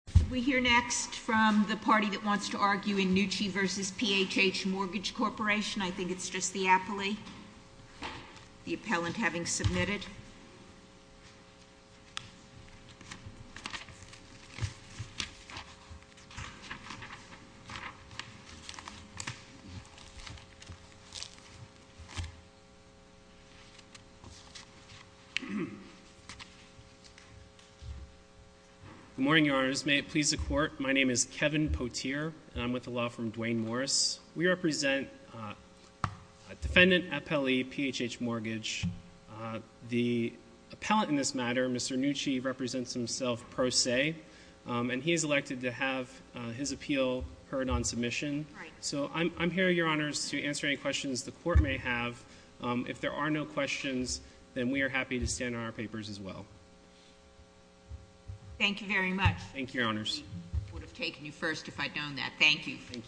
I think it's just the appellate, the appellant having submitted. Good morning, Your Honors. May it please the Court, my name is Kevin Poteer, and I'm with the law firm Duane Morris. We represent a defendant appellee, PHH Mortgage. The appellant in this matter, Mr. Nucci, represents himself pro se, and he is elected to have his appeal heard on submission. So I'm here, Your Honors, to answer any questions the Court may have. If there are no questions, then we are happy to stand on our papers as well. Thank you very much. Thank you, Your Honors. We would have taken you first if I'd known that. Thank you.